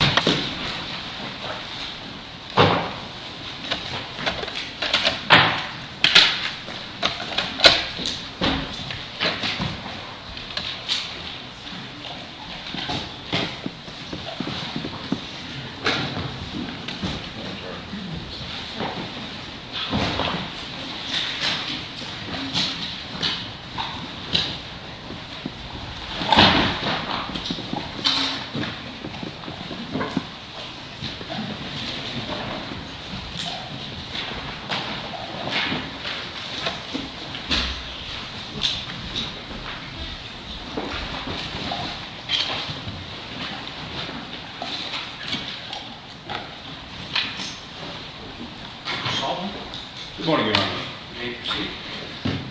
Entering Seward Street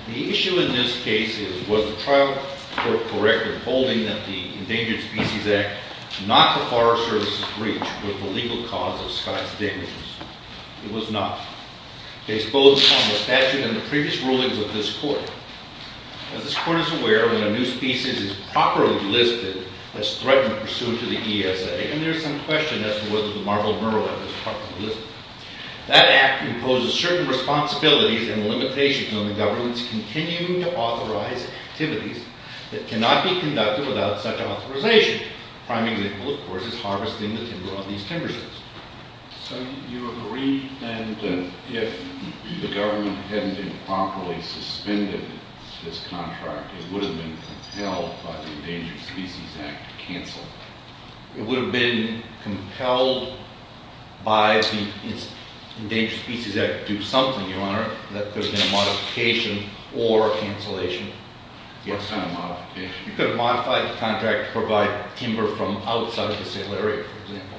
The issue in this case was the trial court corrected holding that the Endangered Species Act was not the Forest Service's breach with the legal cause of Skye's damages. It was not. Based both on the statute and the previous rulings of this court, as this court is aware, when a new species is properly listed as threatened pursuant to the ESA, and there is some question as to whether the marbled murrelet is properly listed, that act imposes certain responsibilities and limitations on the government's continuing to authorize activities that cannot be conducted without such authorization. A prime example, of course, is harvesting the timber on these timber sheds. So you agree, then, that if the government hadn't improperly suspended this contract, it would have been compelled by the Endangered Species Act to cancel? It would have been compelled by the Endangered Species Act to do something, Your Honor, that could have been a modification or a cancellation. What kind of modification? You could have modified the contract to provide timber from outside of the sale area, for example.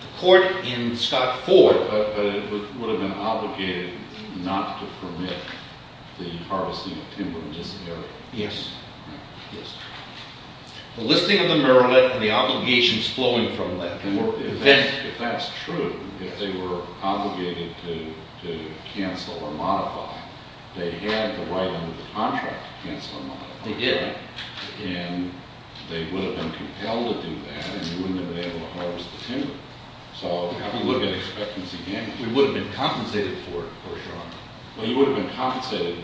The court in Scott Ford... But it would have been obligated not to permit the harvesting of timber in this area. Yes. Yes. The listing of the murrelet and the obligations flowing from that... If that's true, if they were obligated to cancel or modify, they had the right under the contract to cancel or modify. They did. And they would have been compelled to do that, and you wouldn't have been able to harvest the timber. So have a look at expectancy damages. We would have been compensated for it, of course, Your Honor. Well, you would have been compensated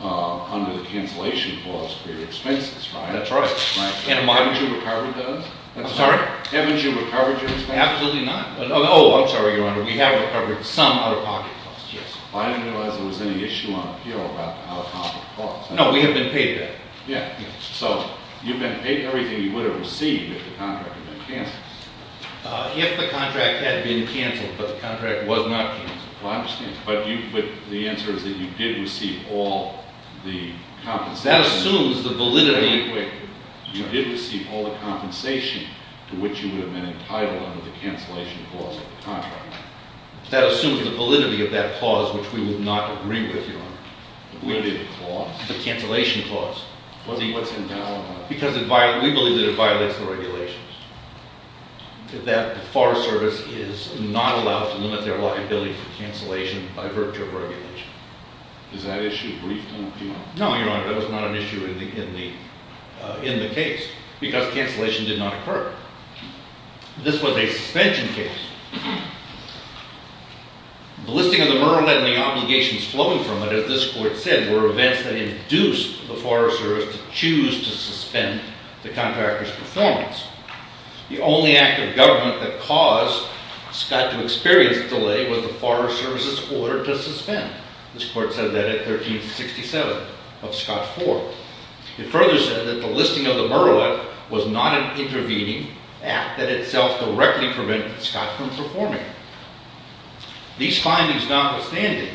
under the cancellation clause for your expenses, right? That's right. Haven't you recovered those? I'm sorry? Haven't you recovered your expenses? Absolutely not. Oh, I'm sorry, Your Honor. We have recovered some out-of-pocket costs, yes. I didn't realize there was any issue on appeal about the out-of-pocket costs. No, we have been paid that. Yeah. So you've been paid everything you would have received if the contract had been canceled. If the contract had been canceled, but the contract was not canceled. Well, I understand. But the answer is that you did receive all the compensation. That assumes the validity... under the cancellation clause of the contract. That assumes the validity of that clause, which we would not agree with, Your Honor. The validity of the clause? The cancellation clause. What's invalid on that? Because we believe that it violates the regulations. That the Forest Service is not allowed to limit their liability for cancellation by virtue of regulation. Is that issue briefed on appeal? No, Your Honor. That was not an issue in the case. Because cancellation did not occur. This was a suspension case. The listing of the merlin and the obligations flowing from it, as this court said, were events that induced the Forest Service to choose to suspend the contractor's performance. The only act of government that caused Scott to experience a delay was the Forest Service's order to suspend. This court said that at 1367 of Scott IV. It further said that the listing of the merlin was not an intervening act that itself directly prevented Scott from performing. These findings notwithstanding,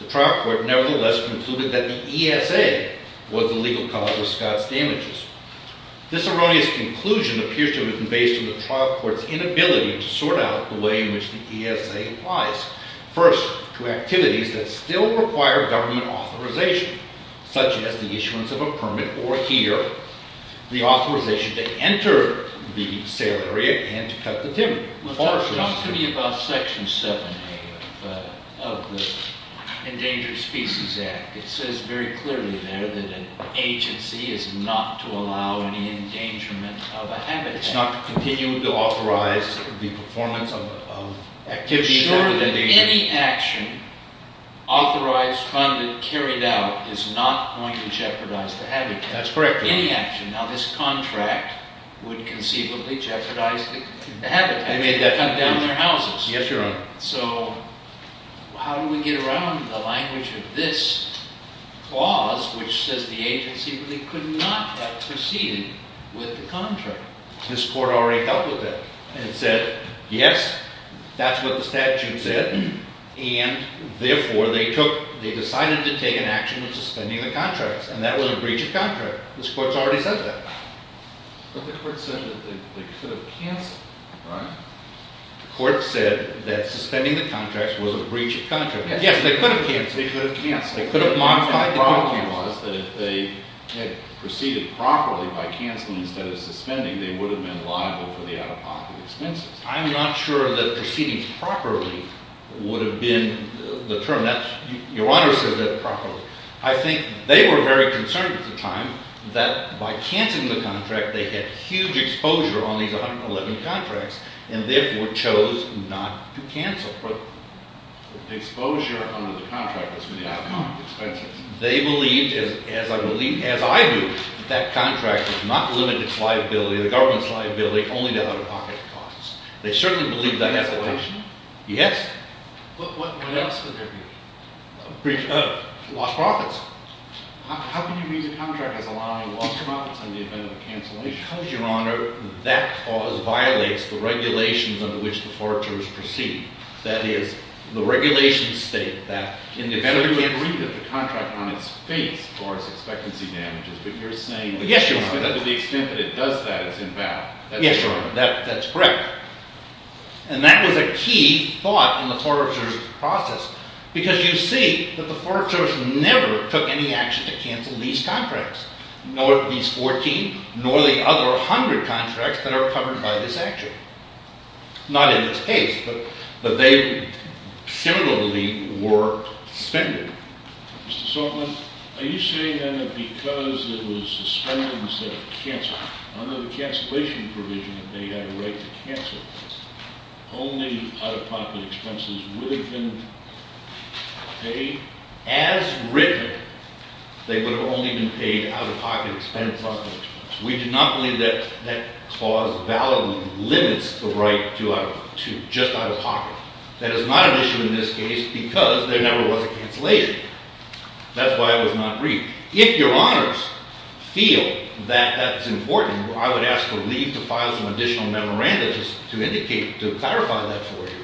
the trial court nevertheless concluded that the ESA was the legal cause of Scott's damages. This erroneous conclusion appears to have been based on the trial court's inability to sort out the way in which the ESA applies. First, to activities that still require government authorization. Such as the issuance of a permit, or here, the authorization to enter the sale area and cut the timber. Talk to me about Section 7A of the Endangered Species Act. It says very clearly there that an agency is not to allow any endangerment of a habitat. It's not to continue to authorize the performance of activities. Assuring that any action authorized, funded, carried out, is not going to jeopardize the habitat. That's correct, Your Honor. Any action. Now, this contract would conceivably jeopardize the habitat. They may cut down their houses. Yes, Your Honor. So, how do we get around the language of this clause, which says the agency could not have proceeded with the contract? This court already dealt with that. It said, yes, that's what the statute said, and therefore they decided to take an action of suspending the contracts. And that was a breach of contract. This court's already said that. But the court said that they could have canceled it, right? The court said that suspending the contracts was a breach of contract. Yes, they could have canceled it. They could have canceled it. They could have modified the contract. The point was that if they had proceeded properly by canceling instead of suspending, they would have been liable for the out-of-pocket expenses. I'm not sure that proceeding properly would have been the term. Your Honor said that properly. I think they were very concerned at the time that by canceling the contract, they had huge exposure on these 111 contracts, and therefore chose not to cancel. But the exposure under the contract was for the out-of-pocket expenses. They believed, as I believe, as I do, that that contract was not limited to liability, the government's liability, only to out-of-pocket costs. They certainly believed that has to happen. Cancellation? Yes. What else could there be? A breach of? Lost profits. How can you read the contract as allowing lost profits in the event of a cancellation? Because, Your Honor, that clause violates the regulations under which the foragers proceed. That is, the regulations state that in the event of a— On its face, or its expectancy damages, but you're saying— Yes, Your Honor. To the extent that it does that, it's invalid. Yes, Your Honor, that's correct. And that was a key thought in the foragers' process, because you see that the foragers never took any action to cancel these contracts, nor these 14, nor the other 100 contracts that are covered by this action. Not in this case, but they similarly were suspended. Mr. Saltzman, are you saying then that because it was suspended instead of canceled, under the cancellation provision that they had a right to cancel, only out-of-pocket expenses would have been paid? As written, they would have only been paid out-of-pocket expenses, out-of-pocket expenses. We do not believe that that clause validly limits the right to just out-of-pocket. That is not an issue in this case, because there never was a cancellation. That's why it was not briefed. If Your Honors feel that that's important, I would ask to leave to file some additional memorandums to indicate, to clarify that for you.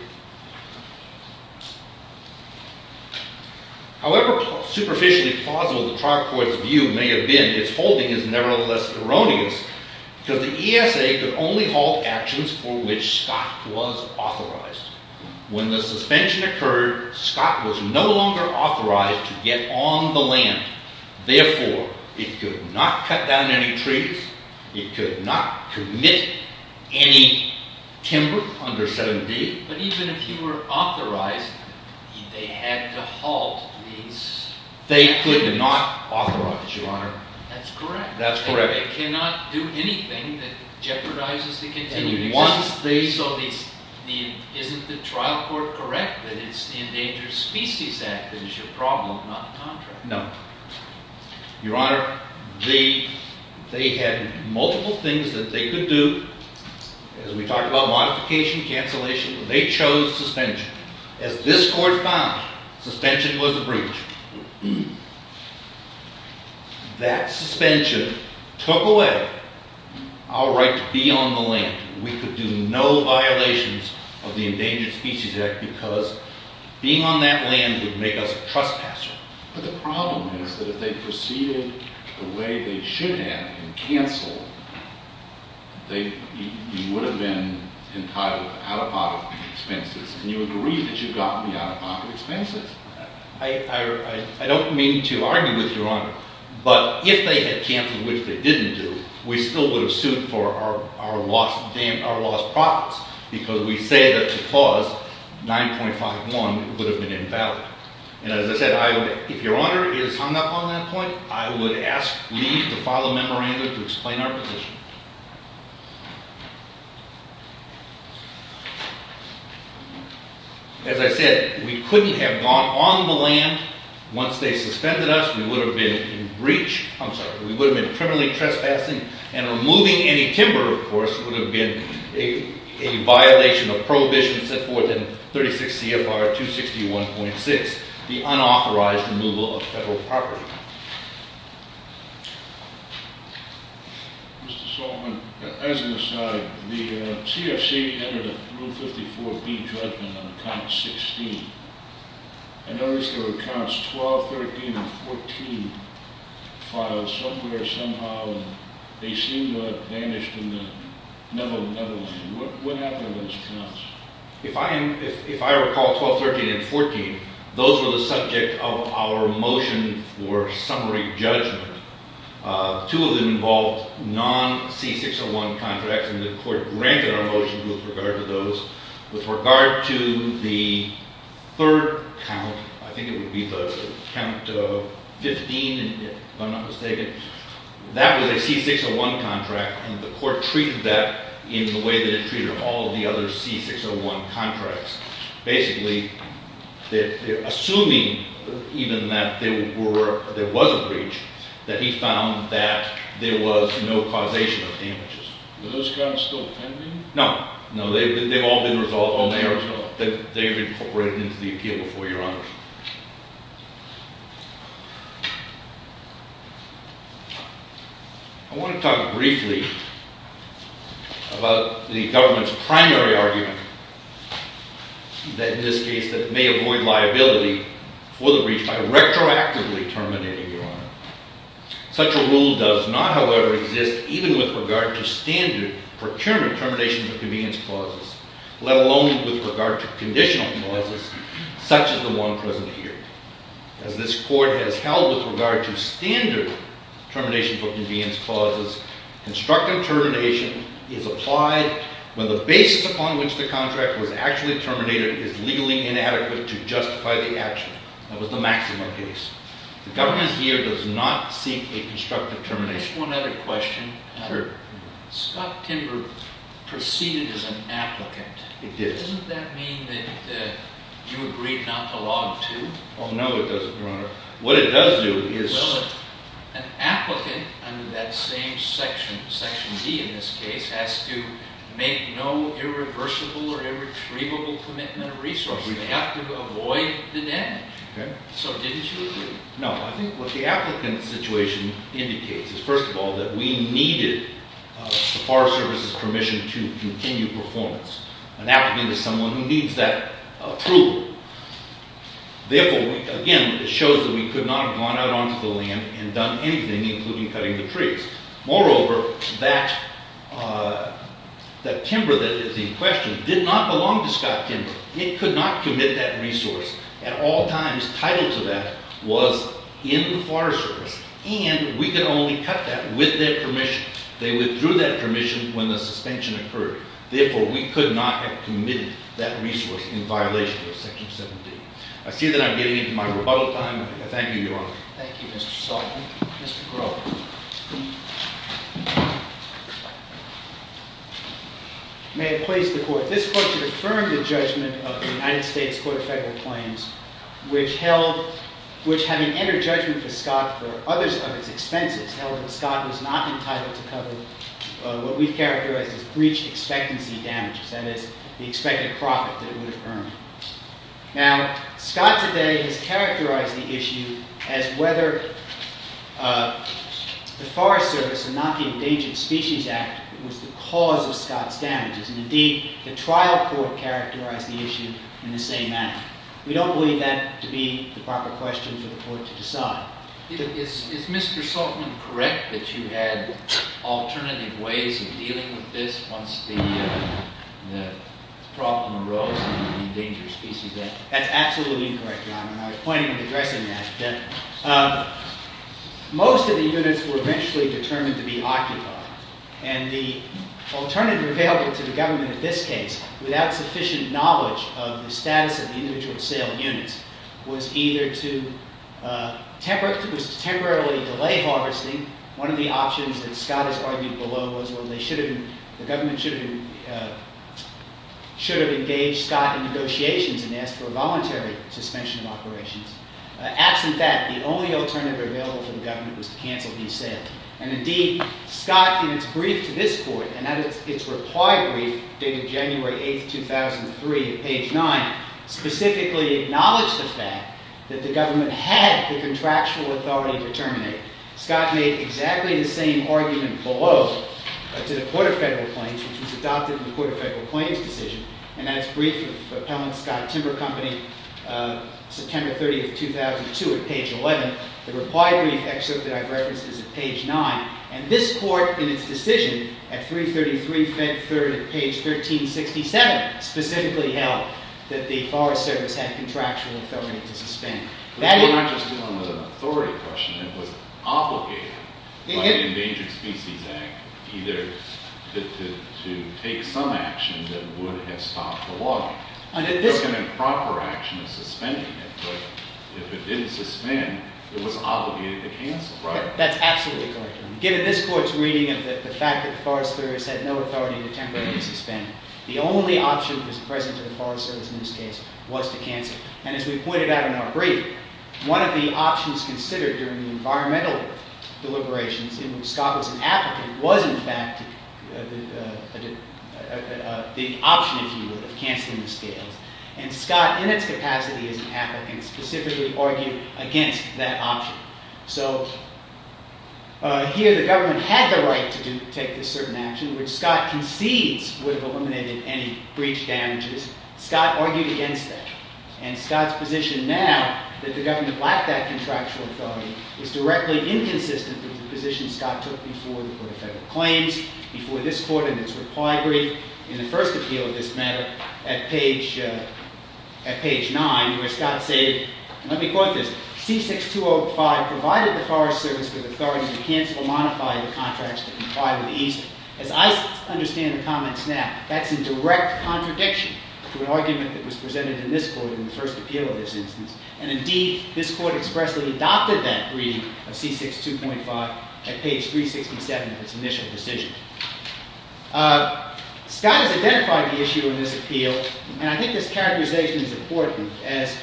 However superficially plausible the trial court's view may have been, its holding is nevertheless erroneous, because the ESA could only halt actions for which Scott was authorized. When the suspension occurred, Scott was no longer authorized to get on the land. Therefore, it could not cut down any trees, it could not commit any timber under 7D. But even if he were authorized, they had to halt these actions. They could not authorize, Your Honor. That's correct. And they cannot do anything that jeopardizes the continued existence. And once they... So isn't the trial court correct that it's the Endangered Species Act that is your problem, not the contract? No. Your Honor, they had multiple things that they could do. As we talked about, modification, cancellation. As this Court found, suspension was a breach. That suspension took away our right to be on the land. We could do no violations of the Endangered Species Act because being on that land would make us a trespasser. But the problem is that if they proceeded the way they should have and canceled, we would have been entitled to out-of-pocket expenses. And you agree that you've gotten the out-of-pocket expenses? I don't mean to argue with Your Honor. But if they had canceled, which they didn't do, we still would have sued for our lost profits because we say that the clause 9.51 would have been invalid. And as I said, if Your Honor is hung up on that point, I would ask Lee to file a memorandum to explain our position. As I said, we couldn't have gone on the land. Once they suspended us, we would have been in breach. I'm sorry, we would have been criminally trespassing. And removing any timber, of course, would have been a violation of Prohibition set forth in 36 CFR 261.6, the unauthorized removal of federal property. Mr. Solomon, as an aside, the CFC entered a Rule 54B judgment on Count 16. I noticed there were Counts 12, 13, and 14 filed somewhere, somehow, and they seem to have vanished in the Netherlands. What happened to those counts? If I recall, 12, 13, and 14, those were the subject of our motion for summary judgment. Two of them involved non-C601 contracts, and the court granted our motion with regard to those. With regard to the third count, I think it would be the Count 15, if I'm not mistaken, that was a C601 contract, and the court treated that in the way that it treated all the other C601 contracts. Basically, assuming even that there was a breach, that he found that there was no causation of damages. Were those counts still pending? No. No, they've all been resolved. They've been incorporated into the appeal before Your Honor. I want to talk briefly about the government's primary argument that, in this case, that it may avoid liability for the breach by retroactively terminating, Your Honor. Such a rule does not, however, exist even with regard to standard procurement terminations of convenience clauses, let alone with regard to conditional clauses such as the one present here. As this court has held with regard to standard terminations of convenience clauses, constructive termination is applied when the basis upon which the contract was actually terminated is legally inadequate to justify the action. That was the maximum case. The government here does not seek a constructive termination. Just one other question. Scott Timber proceeded as an applicant. Doesn't that mean that you agreed not to log 2? No, it doesn't, Your Honor. What it does do is... An applicant under that same section, Section D in this case, has to make no irreversible or irretrievable commitment of resources. They have to avoid the damage. So, didn't you agree? No. I think what the applicant's situation indicates is, first of all, that we needed the Forest Service's permission to continue performance. An applicant is someone who needs that approval. Therefore, again, it shows that we could not have gone out onto the land and done anything, including cutting the trees. Moreover, that timber that is in question did not belong to Scott Timber. It could not commit that resource. At all times, title to that was in the Forest Service. And we could only cut that with their permission. They withdrew that permission when the suspension occurred. Therefore, we could not have committed that resource in violation of Section 17. I see that I'm getting into my rebuttal time. I thank you, Your Honor. Thank you, Mr. Sullivan. Mr. Crowe. May it please the Court. This Court should affirm the judgment of the United States Court of Federal Claims, which, having entered judgment for Scott for others of its expenses, held that Scott was not entitled to cover what we characterize as breached expectancy damages, that is, the expected profit that it would have earned. Now, Scott today has characterized the issue as whether the Forest Service and not the Endangered Species Act was the cause of Scott's damages. And indeed, the trial court characterized the issue in the same manner. We don't believe that to be the proper question for the Court to decide. Is Mr. Saltman correct that you had alternative ways of dealing with this once the problem arose in the Endangered Species Act? That's absolutely incorrect, Your Honor, and I was planning on addressing that. Most of the units were eventually determined to be occupied, and the alternative available to the government in this case, without sufficient knowledge of the status of the individual sale units, was either to temporarily delay harvesting. One of the options that Scott has argued below was the government should have engaged Scott in negotiations and asked for a voluntary suspension of operations. Absent that, the only alternative available to the government was to cancel these sales. And indeed, Scott, in his brief to this Court, and at its reply brief dated January 8, 2003, at page 9, specifically acknowledged the fact that the government had the contractual authority to terminate. Scott made exactly the same argument below to the Court of Federal Claims, which was adopted in the Court of Federal Claims decision, and that is brief of Appellant Scott, Timber Company, September 30, 2002, at page 11. The reply brief excerpt that I've referenced is at page 9. And this Court, in its decision at 333 Fed 3rd at page 1367, specifically held that the Forest Service had contractual authority to suspend. We're not just dealing with an authority question. It was obligated by the Endangered Species Act either to take some action that would have stopped the logging. There's an improper action of suspending it, but if it didn't suspend, it was obligated to cancel, right? That's absolutely correct. Given this Court's reading of the fact that the Forest Service had no authority to temporarily suspend, the only option that was present to the Forest Service in this case was to cancel. And as we pointed out in our brief, one of the options considered during the environmental deliberations in which Scott was an applicant was, in fact, the option, if you will, of canceling the scales. And Scott, in its capacity as an applicant, specifically argued against that option. So here the government had the right to take this certain action, which Scott concedes would have eliminated any breach damages. Scott argued against that. And Scott's position now, that the government lacked that contractual authority, is directly inconsistent with the position Scott took before the Board of Federal Claims, before this Court in its reply brief, in the first appeal of this matter at page 9, where Scott said, and let me quote this, C6205 provided the Forest Service with authority to cancel or modify the contracts that complied with EAST. As I understand the comments now, that's in direct contradiction to an argument that was presented in this Court in the first appeal of this instance. And indeed, this Court expressly adopted that reading of C6205 at page 367 of its initial decision. Scott has identified the issue in this appeal, and I think this characterization is important, as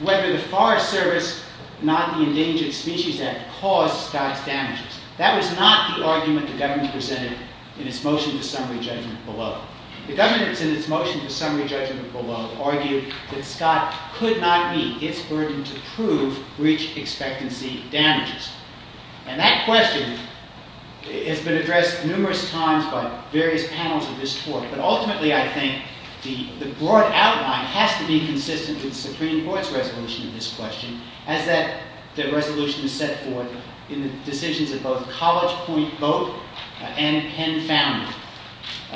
whether the Forest Service, not the Endangered Species Act, caused Scott's damages. That was not the argument the government presented in its motion to summary judgment below. The government, in its motion to summary judgment below, argued that Scott could not meet its burden to prove breach expectancy damages. And that question has been addressed numerous times by various panels of this Court. But ultimately, I think, the broad outline has to be consistent with the Supreme Court's resolution of this question, as that resolution is set forth in the decisions of both College Point Vote and Penn Founding.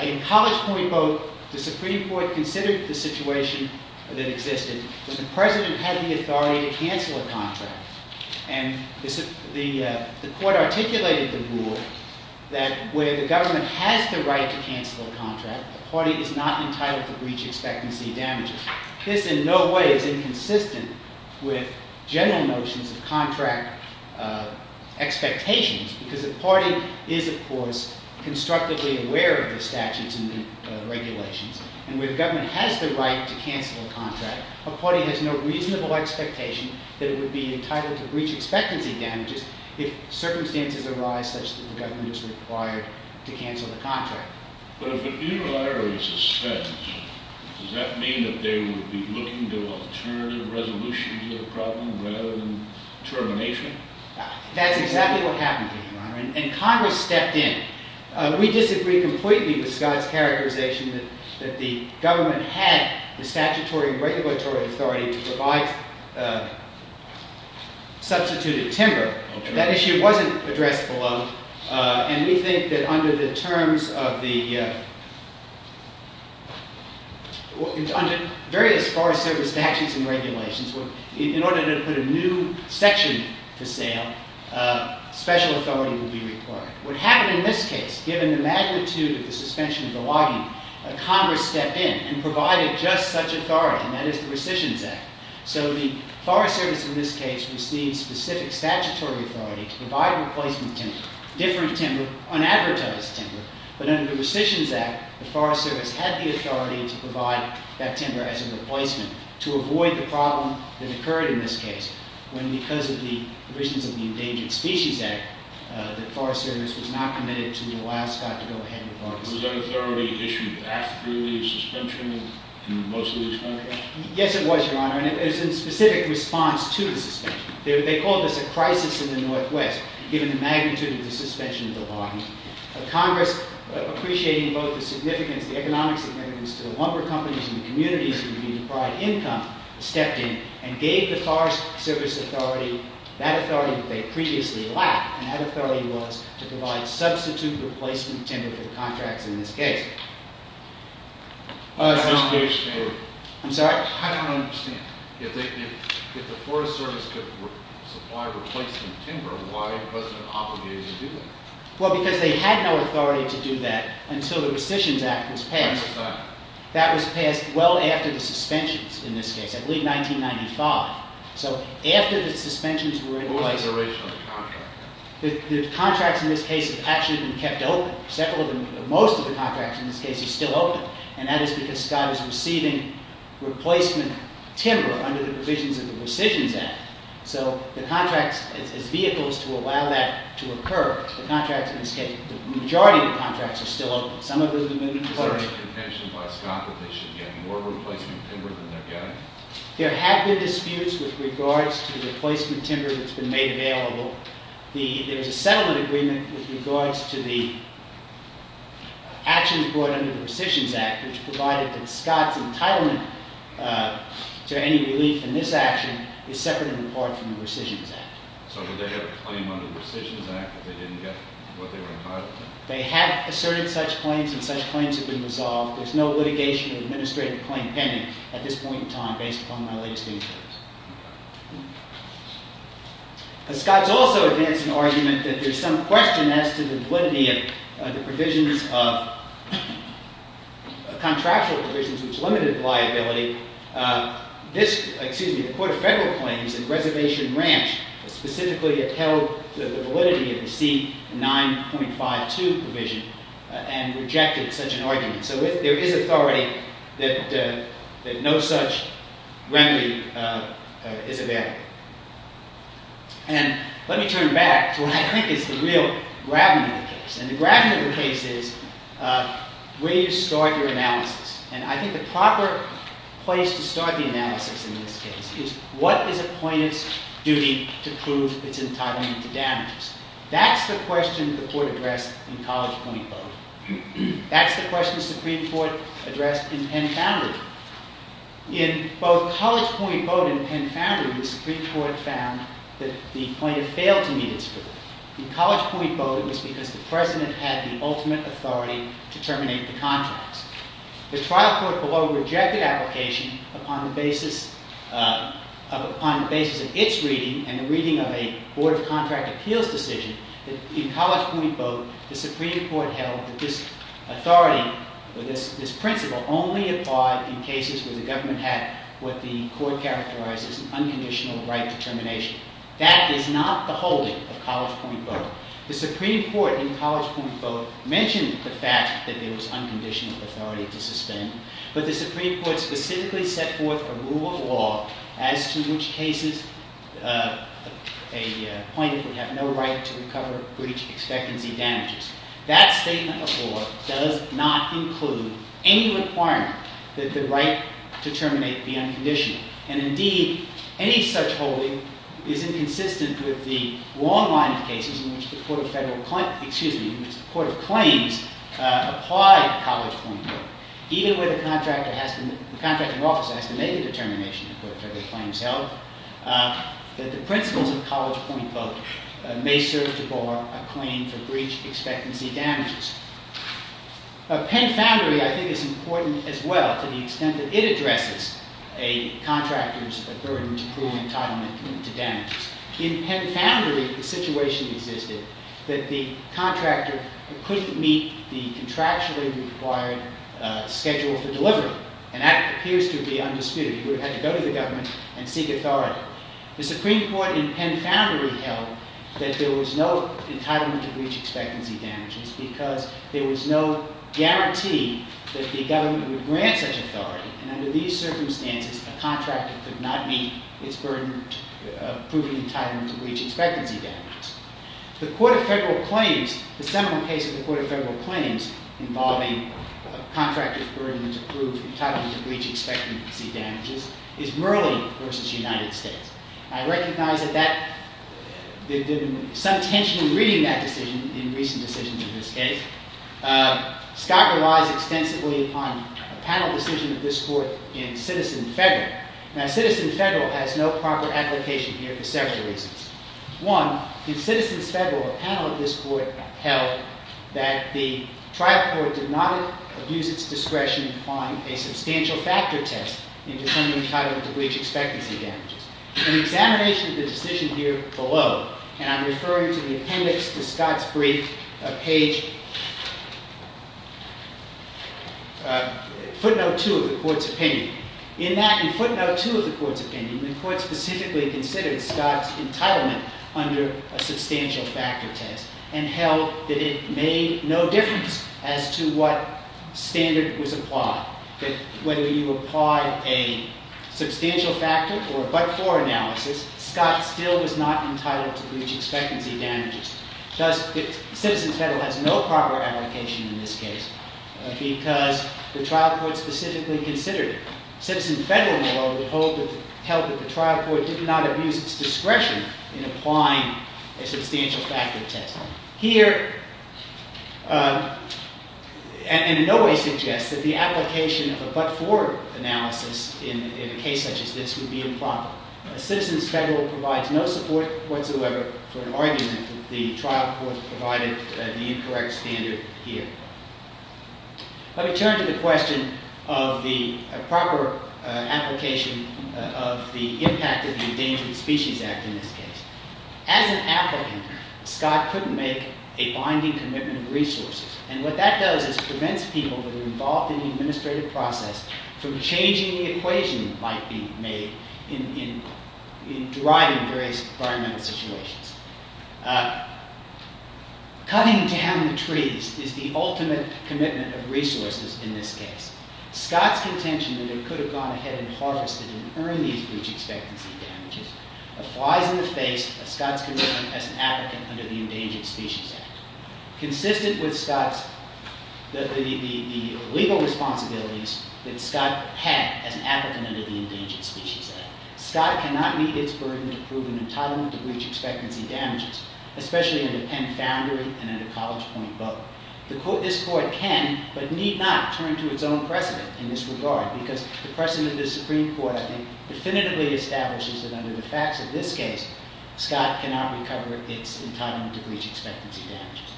In College Point Vote, the Supreme Court considered the situation that existed when the President had the authority to cancel a contract. And the Court articulated the rule that where the government has the right to cancel a contract, the party is not entitled to breach expectancy damages. This in no way is inconsistent with general notions of contract expectations, because the party is, of course, constructively aware of the statutes and the regulations. And where the government has the right to cancel a contract, a party has no reasonable expectation that it would be entitled to breach expectancy damages if circumstances arise such that the government is required to cancel the contract. But if a mutilary is suspended, does that mean that they would be looking to alternative resolutions of the problem, rather than termination? That's exactly what happened to me, Your Honor. And Congress stepped in. We disagree completely with Scott's characterization that the government had the statutory and regulatory authority to provide substituted timber. That issue wasn't addressed below. And we think that under the terms of the various Forest Service statutes and regulations, in order to put a new section for sale, special authority would be required. What happened in this case, given the magnitude of the suspension of the logging, Congress stepped in and provided just such authority, and that is the Recisions Act. So the Forest Service in this case received specific statutory authority to provide replacement timber, different timber, unadvertised timber. But under the Recisions Act, the Forest Service had the authority to provide that timber as a replacement to avoid the problem that occurred in this case, when because of the provisions of the Endangered Species Act, the Forest Service was not committed to allow Scott to go ahead with logging. Was that authority issued after the suspension in most of these contracts? Yes, it was, Your Honor. And it was in specific response to the suspension. They called this a crisis in the Northwest, given the magnitude of the suspension of the logging. Congress, appreciating both the significance, the economic significance to the lumber companies and the communities who would be deprived income, stepped in and gave the Forest Service authority that authority that they previously lacked, and that authority was to provide substitute replacement timber for the contracts in this case. I'm sorry? I don't understand. If the Forest Service could supply replacement timber, why was it obligated to do that? Well, because they had no authority to do that until the Recisions Act was passed. When was that? That was passed well after the suspensions in this case, I believe 1995. So after the suspensions were in place... When was the original contract? The contracts in this case have actually been kept open. Most of the contracts in this case are still open, and that is because Scott is receiving replacement timber under the provisions of the Recisions Act. So the contracts as vehicles to allow that to occur, the majority of the contracts are still open. Some of them have been deployed. Is there any contention by Scott that they should get more replacement timber than they're getting? There have been disputes with regards to the replacement timber that's been made available. There was a settlement agreement with regards to the actions brought under the Recisions Act, which provided that Scott's entitlement to any relief in this action is separate and apart from the Recisions Act. So did they have a claim under the Recisions Act that they didn't get what they were entitled to? They have asserted such claims, and such claims have been resolved. There's no litigation or administrative claim pending at this point in time based upon my latest research. Scott's also advanced an argument that there's some question as to the validity of the contractual provisions, which limited the liability. The Court of Federal Claims in Reservation Ranch specifically upheld the validity of the C9.52 provision and rejected such an argument. So there is authority that no such remedy is available. And let me turn back to what I think is the real gravity of the case. And the gravity of the case is, where do you start your analysis? And I think the proper place to start the analysis in this case is, what is a plaintiff's duty to prove its entitlement to damages? That's the question the Court addressed in College Point Voting. That's the question the Supreme Court addressed in Penn Foundry. In both College Point Voting and Penn Foundry, the Supreme Court found that the plaintiff failed to meet its duty. In College Point Voting, it was because the President had the ultimate authority to terminate the contracts. The trial court below rejected application upon the basis of its reading and the reading of a Board of Contract Appeals decision that, in College Point Voting, the Supreme Court held that this authority, or this principle, only applied in cases where the government had what the Court characterized as an unconditional right to termination. That is not the holding of College Point Voting. The Supreme Court, in College Point Voting, mentioned the fact that there was unconditional authority to suspend. But the Supreme Court specifically set forth a rule of law as to which cases a plaintiff would have no right to recover breach expectancy damages. That statement of law does not include any requirement that the right to terminate be unconditional. And indeed, any such holding is inconsistent with the long line of cases in which the Court of Claims applied College Point Voting. Even where the contracting officer has to make a determination, according to the Court of Claims held, that the principles of College Point Voting may serve to bar a claim for breach expectancy damages. Pen Foundry, I think, is important as well to the extent that it addresses a contractor's burden to prove entitlement to damages. In Pen Foundry, the situation existed that the contractor couldn't meet the contractually required schedule for delivery. And that appears to be undisputed. He would have to go to the government and seek authority. The Supreme Court, in Pen Foundry, held that there was no entitlement to breach expectancy damages because there was no guarantee that the government would grant such authority. And under these circumstances, a contractor could not meet its burden of proving entitlement to breach expectancy damages. The Court of Federal Claims, the seminal case of the Court of Federal Claims, involving a contractor's burden to prove entitlement to breach expectancy damages, is Merlin v. United States. I recognize that there has been some tension in reading that decision in recent decisions in this case. Scott relies extensively on a panel decision of this court in Citizen Federal. Now, Citizen Federal has no proper application here for several reasons. One, in Citizens Federal, a panel of this court held that the trial court did not abuse its discretion in applying a substantial factor test in defending entitlement to breach expectancy damages. In the examination of the decision here below, and I'm referring to the appendix to Scott's brief, page footnote 2 of the court's opinion, in that footnote 2 of the court's opinion, the court specifically considered Scott's entitlement under a substantial factor test and held that it made no difference as to what standard was applied. That whether you applied a substantial factor or a but-for analysis, Scott still was not entitled to breach expectancy damages. Citizen Federal has no proper application in this case because the trial court specifically considered it. Citizen Federal, moreover, held that the trial court did not abuse its discretion in applying a substantial factor test. Here, and in no way suggests that the application of a but-for analysis in a case such as this would be improper. Citizens Federal provides no support whatsoever for an argument that the trial court provided the incorrect standard here. Let me turn to the question of the proper application of the impact of the Endangered Species Act in this case. As an applicant, Scott couldn't make a binding commitment of resources, and what that does is prevents people that are involved in the administrative process from changing the equation that might be made in driving various environmental situations. Cutting down the trees is the ultimate commitment of resources in this case. Scott's contention that it could have gone ahead and harvested and earned these breach expectancy damages applies in the face of Scott's commitment as an applicant under the Endangered Species Act, consistent with Scott's legal responsibilities that Scott had as an applicant under the Endangered Species Act. Scott cannot meet its burden to prove an entitlement to breach expectancy damages, especially under Penn Foundry and under College Point Boat. This court can, but need not, turn to its own precedent in this regard, because the precedent of the Supreme Court, I think, definitively establishes that under the facts of this case, Scott cannot recover its entitlement to breach expectancy damages.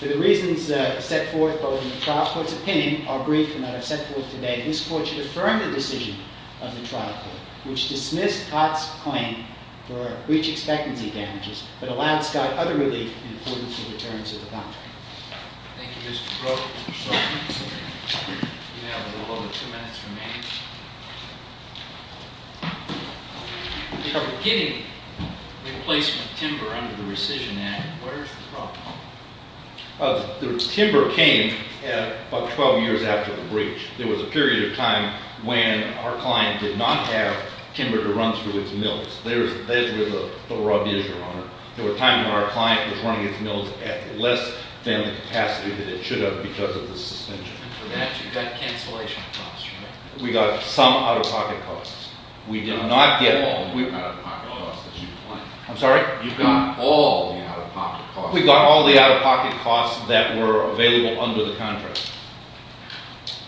For the reasons set forth both in the trial court's opinion, our brief and that I've set forth today, this court should affirm the decision of the trial court, which dismissed Scott's claim for breach expectancy damages, but allowed Scott other relief in accordance with the terms of the contract. Thank you, Mr. Brooks. We have a little over two minutes remaining. In terms of getting replacement timber under the rescission act, where is the problem? The timber came about 12 years after the breach. There was a period of time when our client did not have timber to run through its mills. That's where the problem is, Your Honor. There were times when our client was running its mills at less than the capacity that it should have because of the suspension. And for that, you got cancellation costs, right? We got some out-of-pocket costs. We did not get all the out-of-pocket costs that you claim. I'm sorry? You got all the out-of-pocket costs. We got all the out-of-pocket costs that were available under the contract.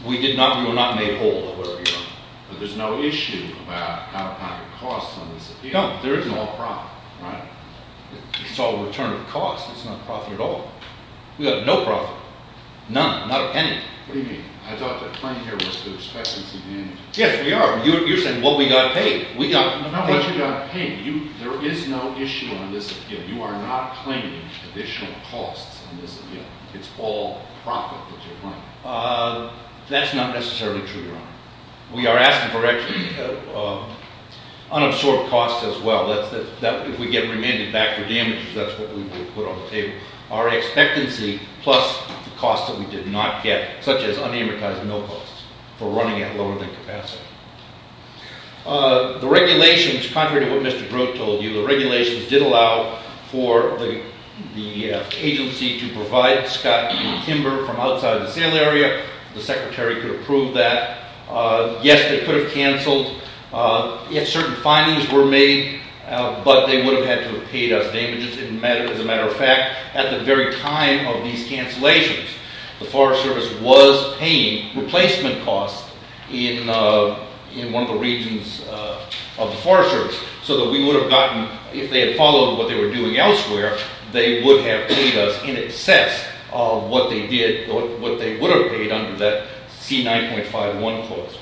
We were not made whole, however, Your Honor. But there's no issue about out-of-pocket costs on this appeal. No, there is no. It's all profit, right? It's all return of cost. It's not profit at all. We got no profit. None, not a penny. What do you mean? I thought the claim here was the expectancy damage. Yes, we are. You're saying, well, we got paid. No, you got paid. There is no issue on this appeal. You are not claiming additional costs on this appeal. It's all profit that you're claiming. That's not necessarily true, Your Honor. We are asking for unabsorbed costs as well. If we get remanded back for damages, that's what we would put on the table. Our expectancy plus the costs that we did not get, such as unamortized mill costs, for running at lower than capacity. The regulations, contrary to what Mr. Brode told you, the regulations did allow for the agency to provide scot and timber from outside the sale area. The Secretary could approve that. Yes, they could have canceled. If certain findings were made, but they would have had to have paid us damages. As a matter of fact, at the very time of these cancellations, the Forest Service was paying replacement costs in one of the regions of the Forest Service so that we would have gotten, if they had followed what they were doing elsewhere, they would have paid us in excess of what they would have paid under that C9.51 clause.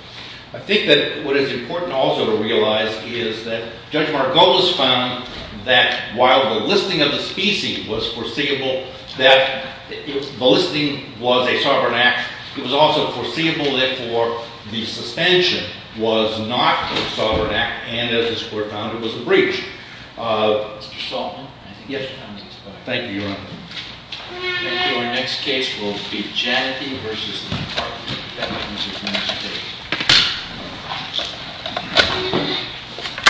I think that what is important also to realize is that Judge Margolis found that while the listing of the species was foreseeable, that the listing was a sovereign act, it was also foreseeable, therefore, the suspension was not a sovereign act, and as this Court found, it was a breach. Mr. Saltzman? Yes. Thank you, Your Honor. Thank you. Our next case will be Janetty v. Hartman. That brings us to the next case.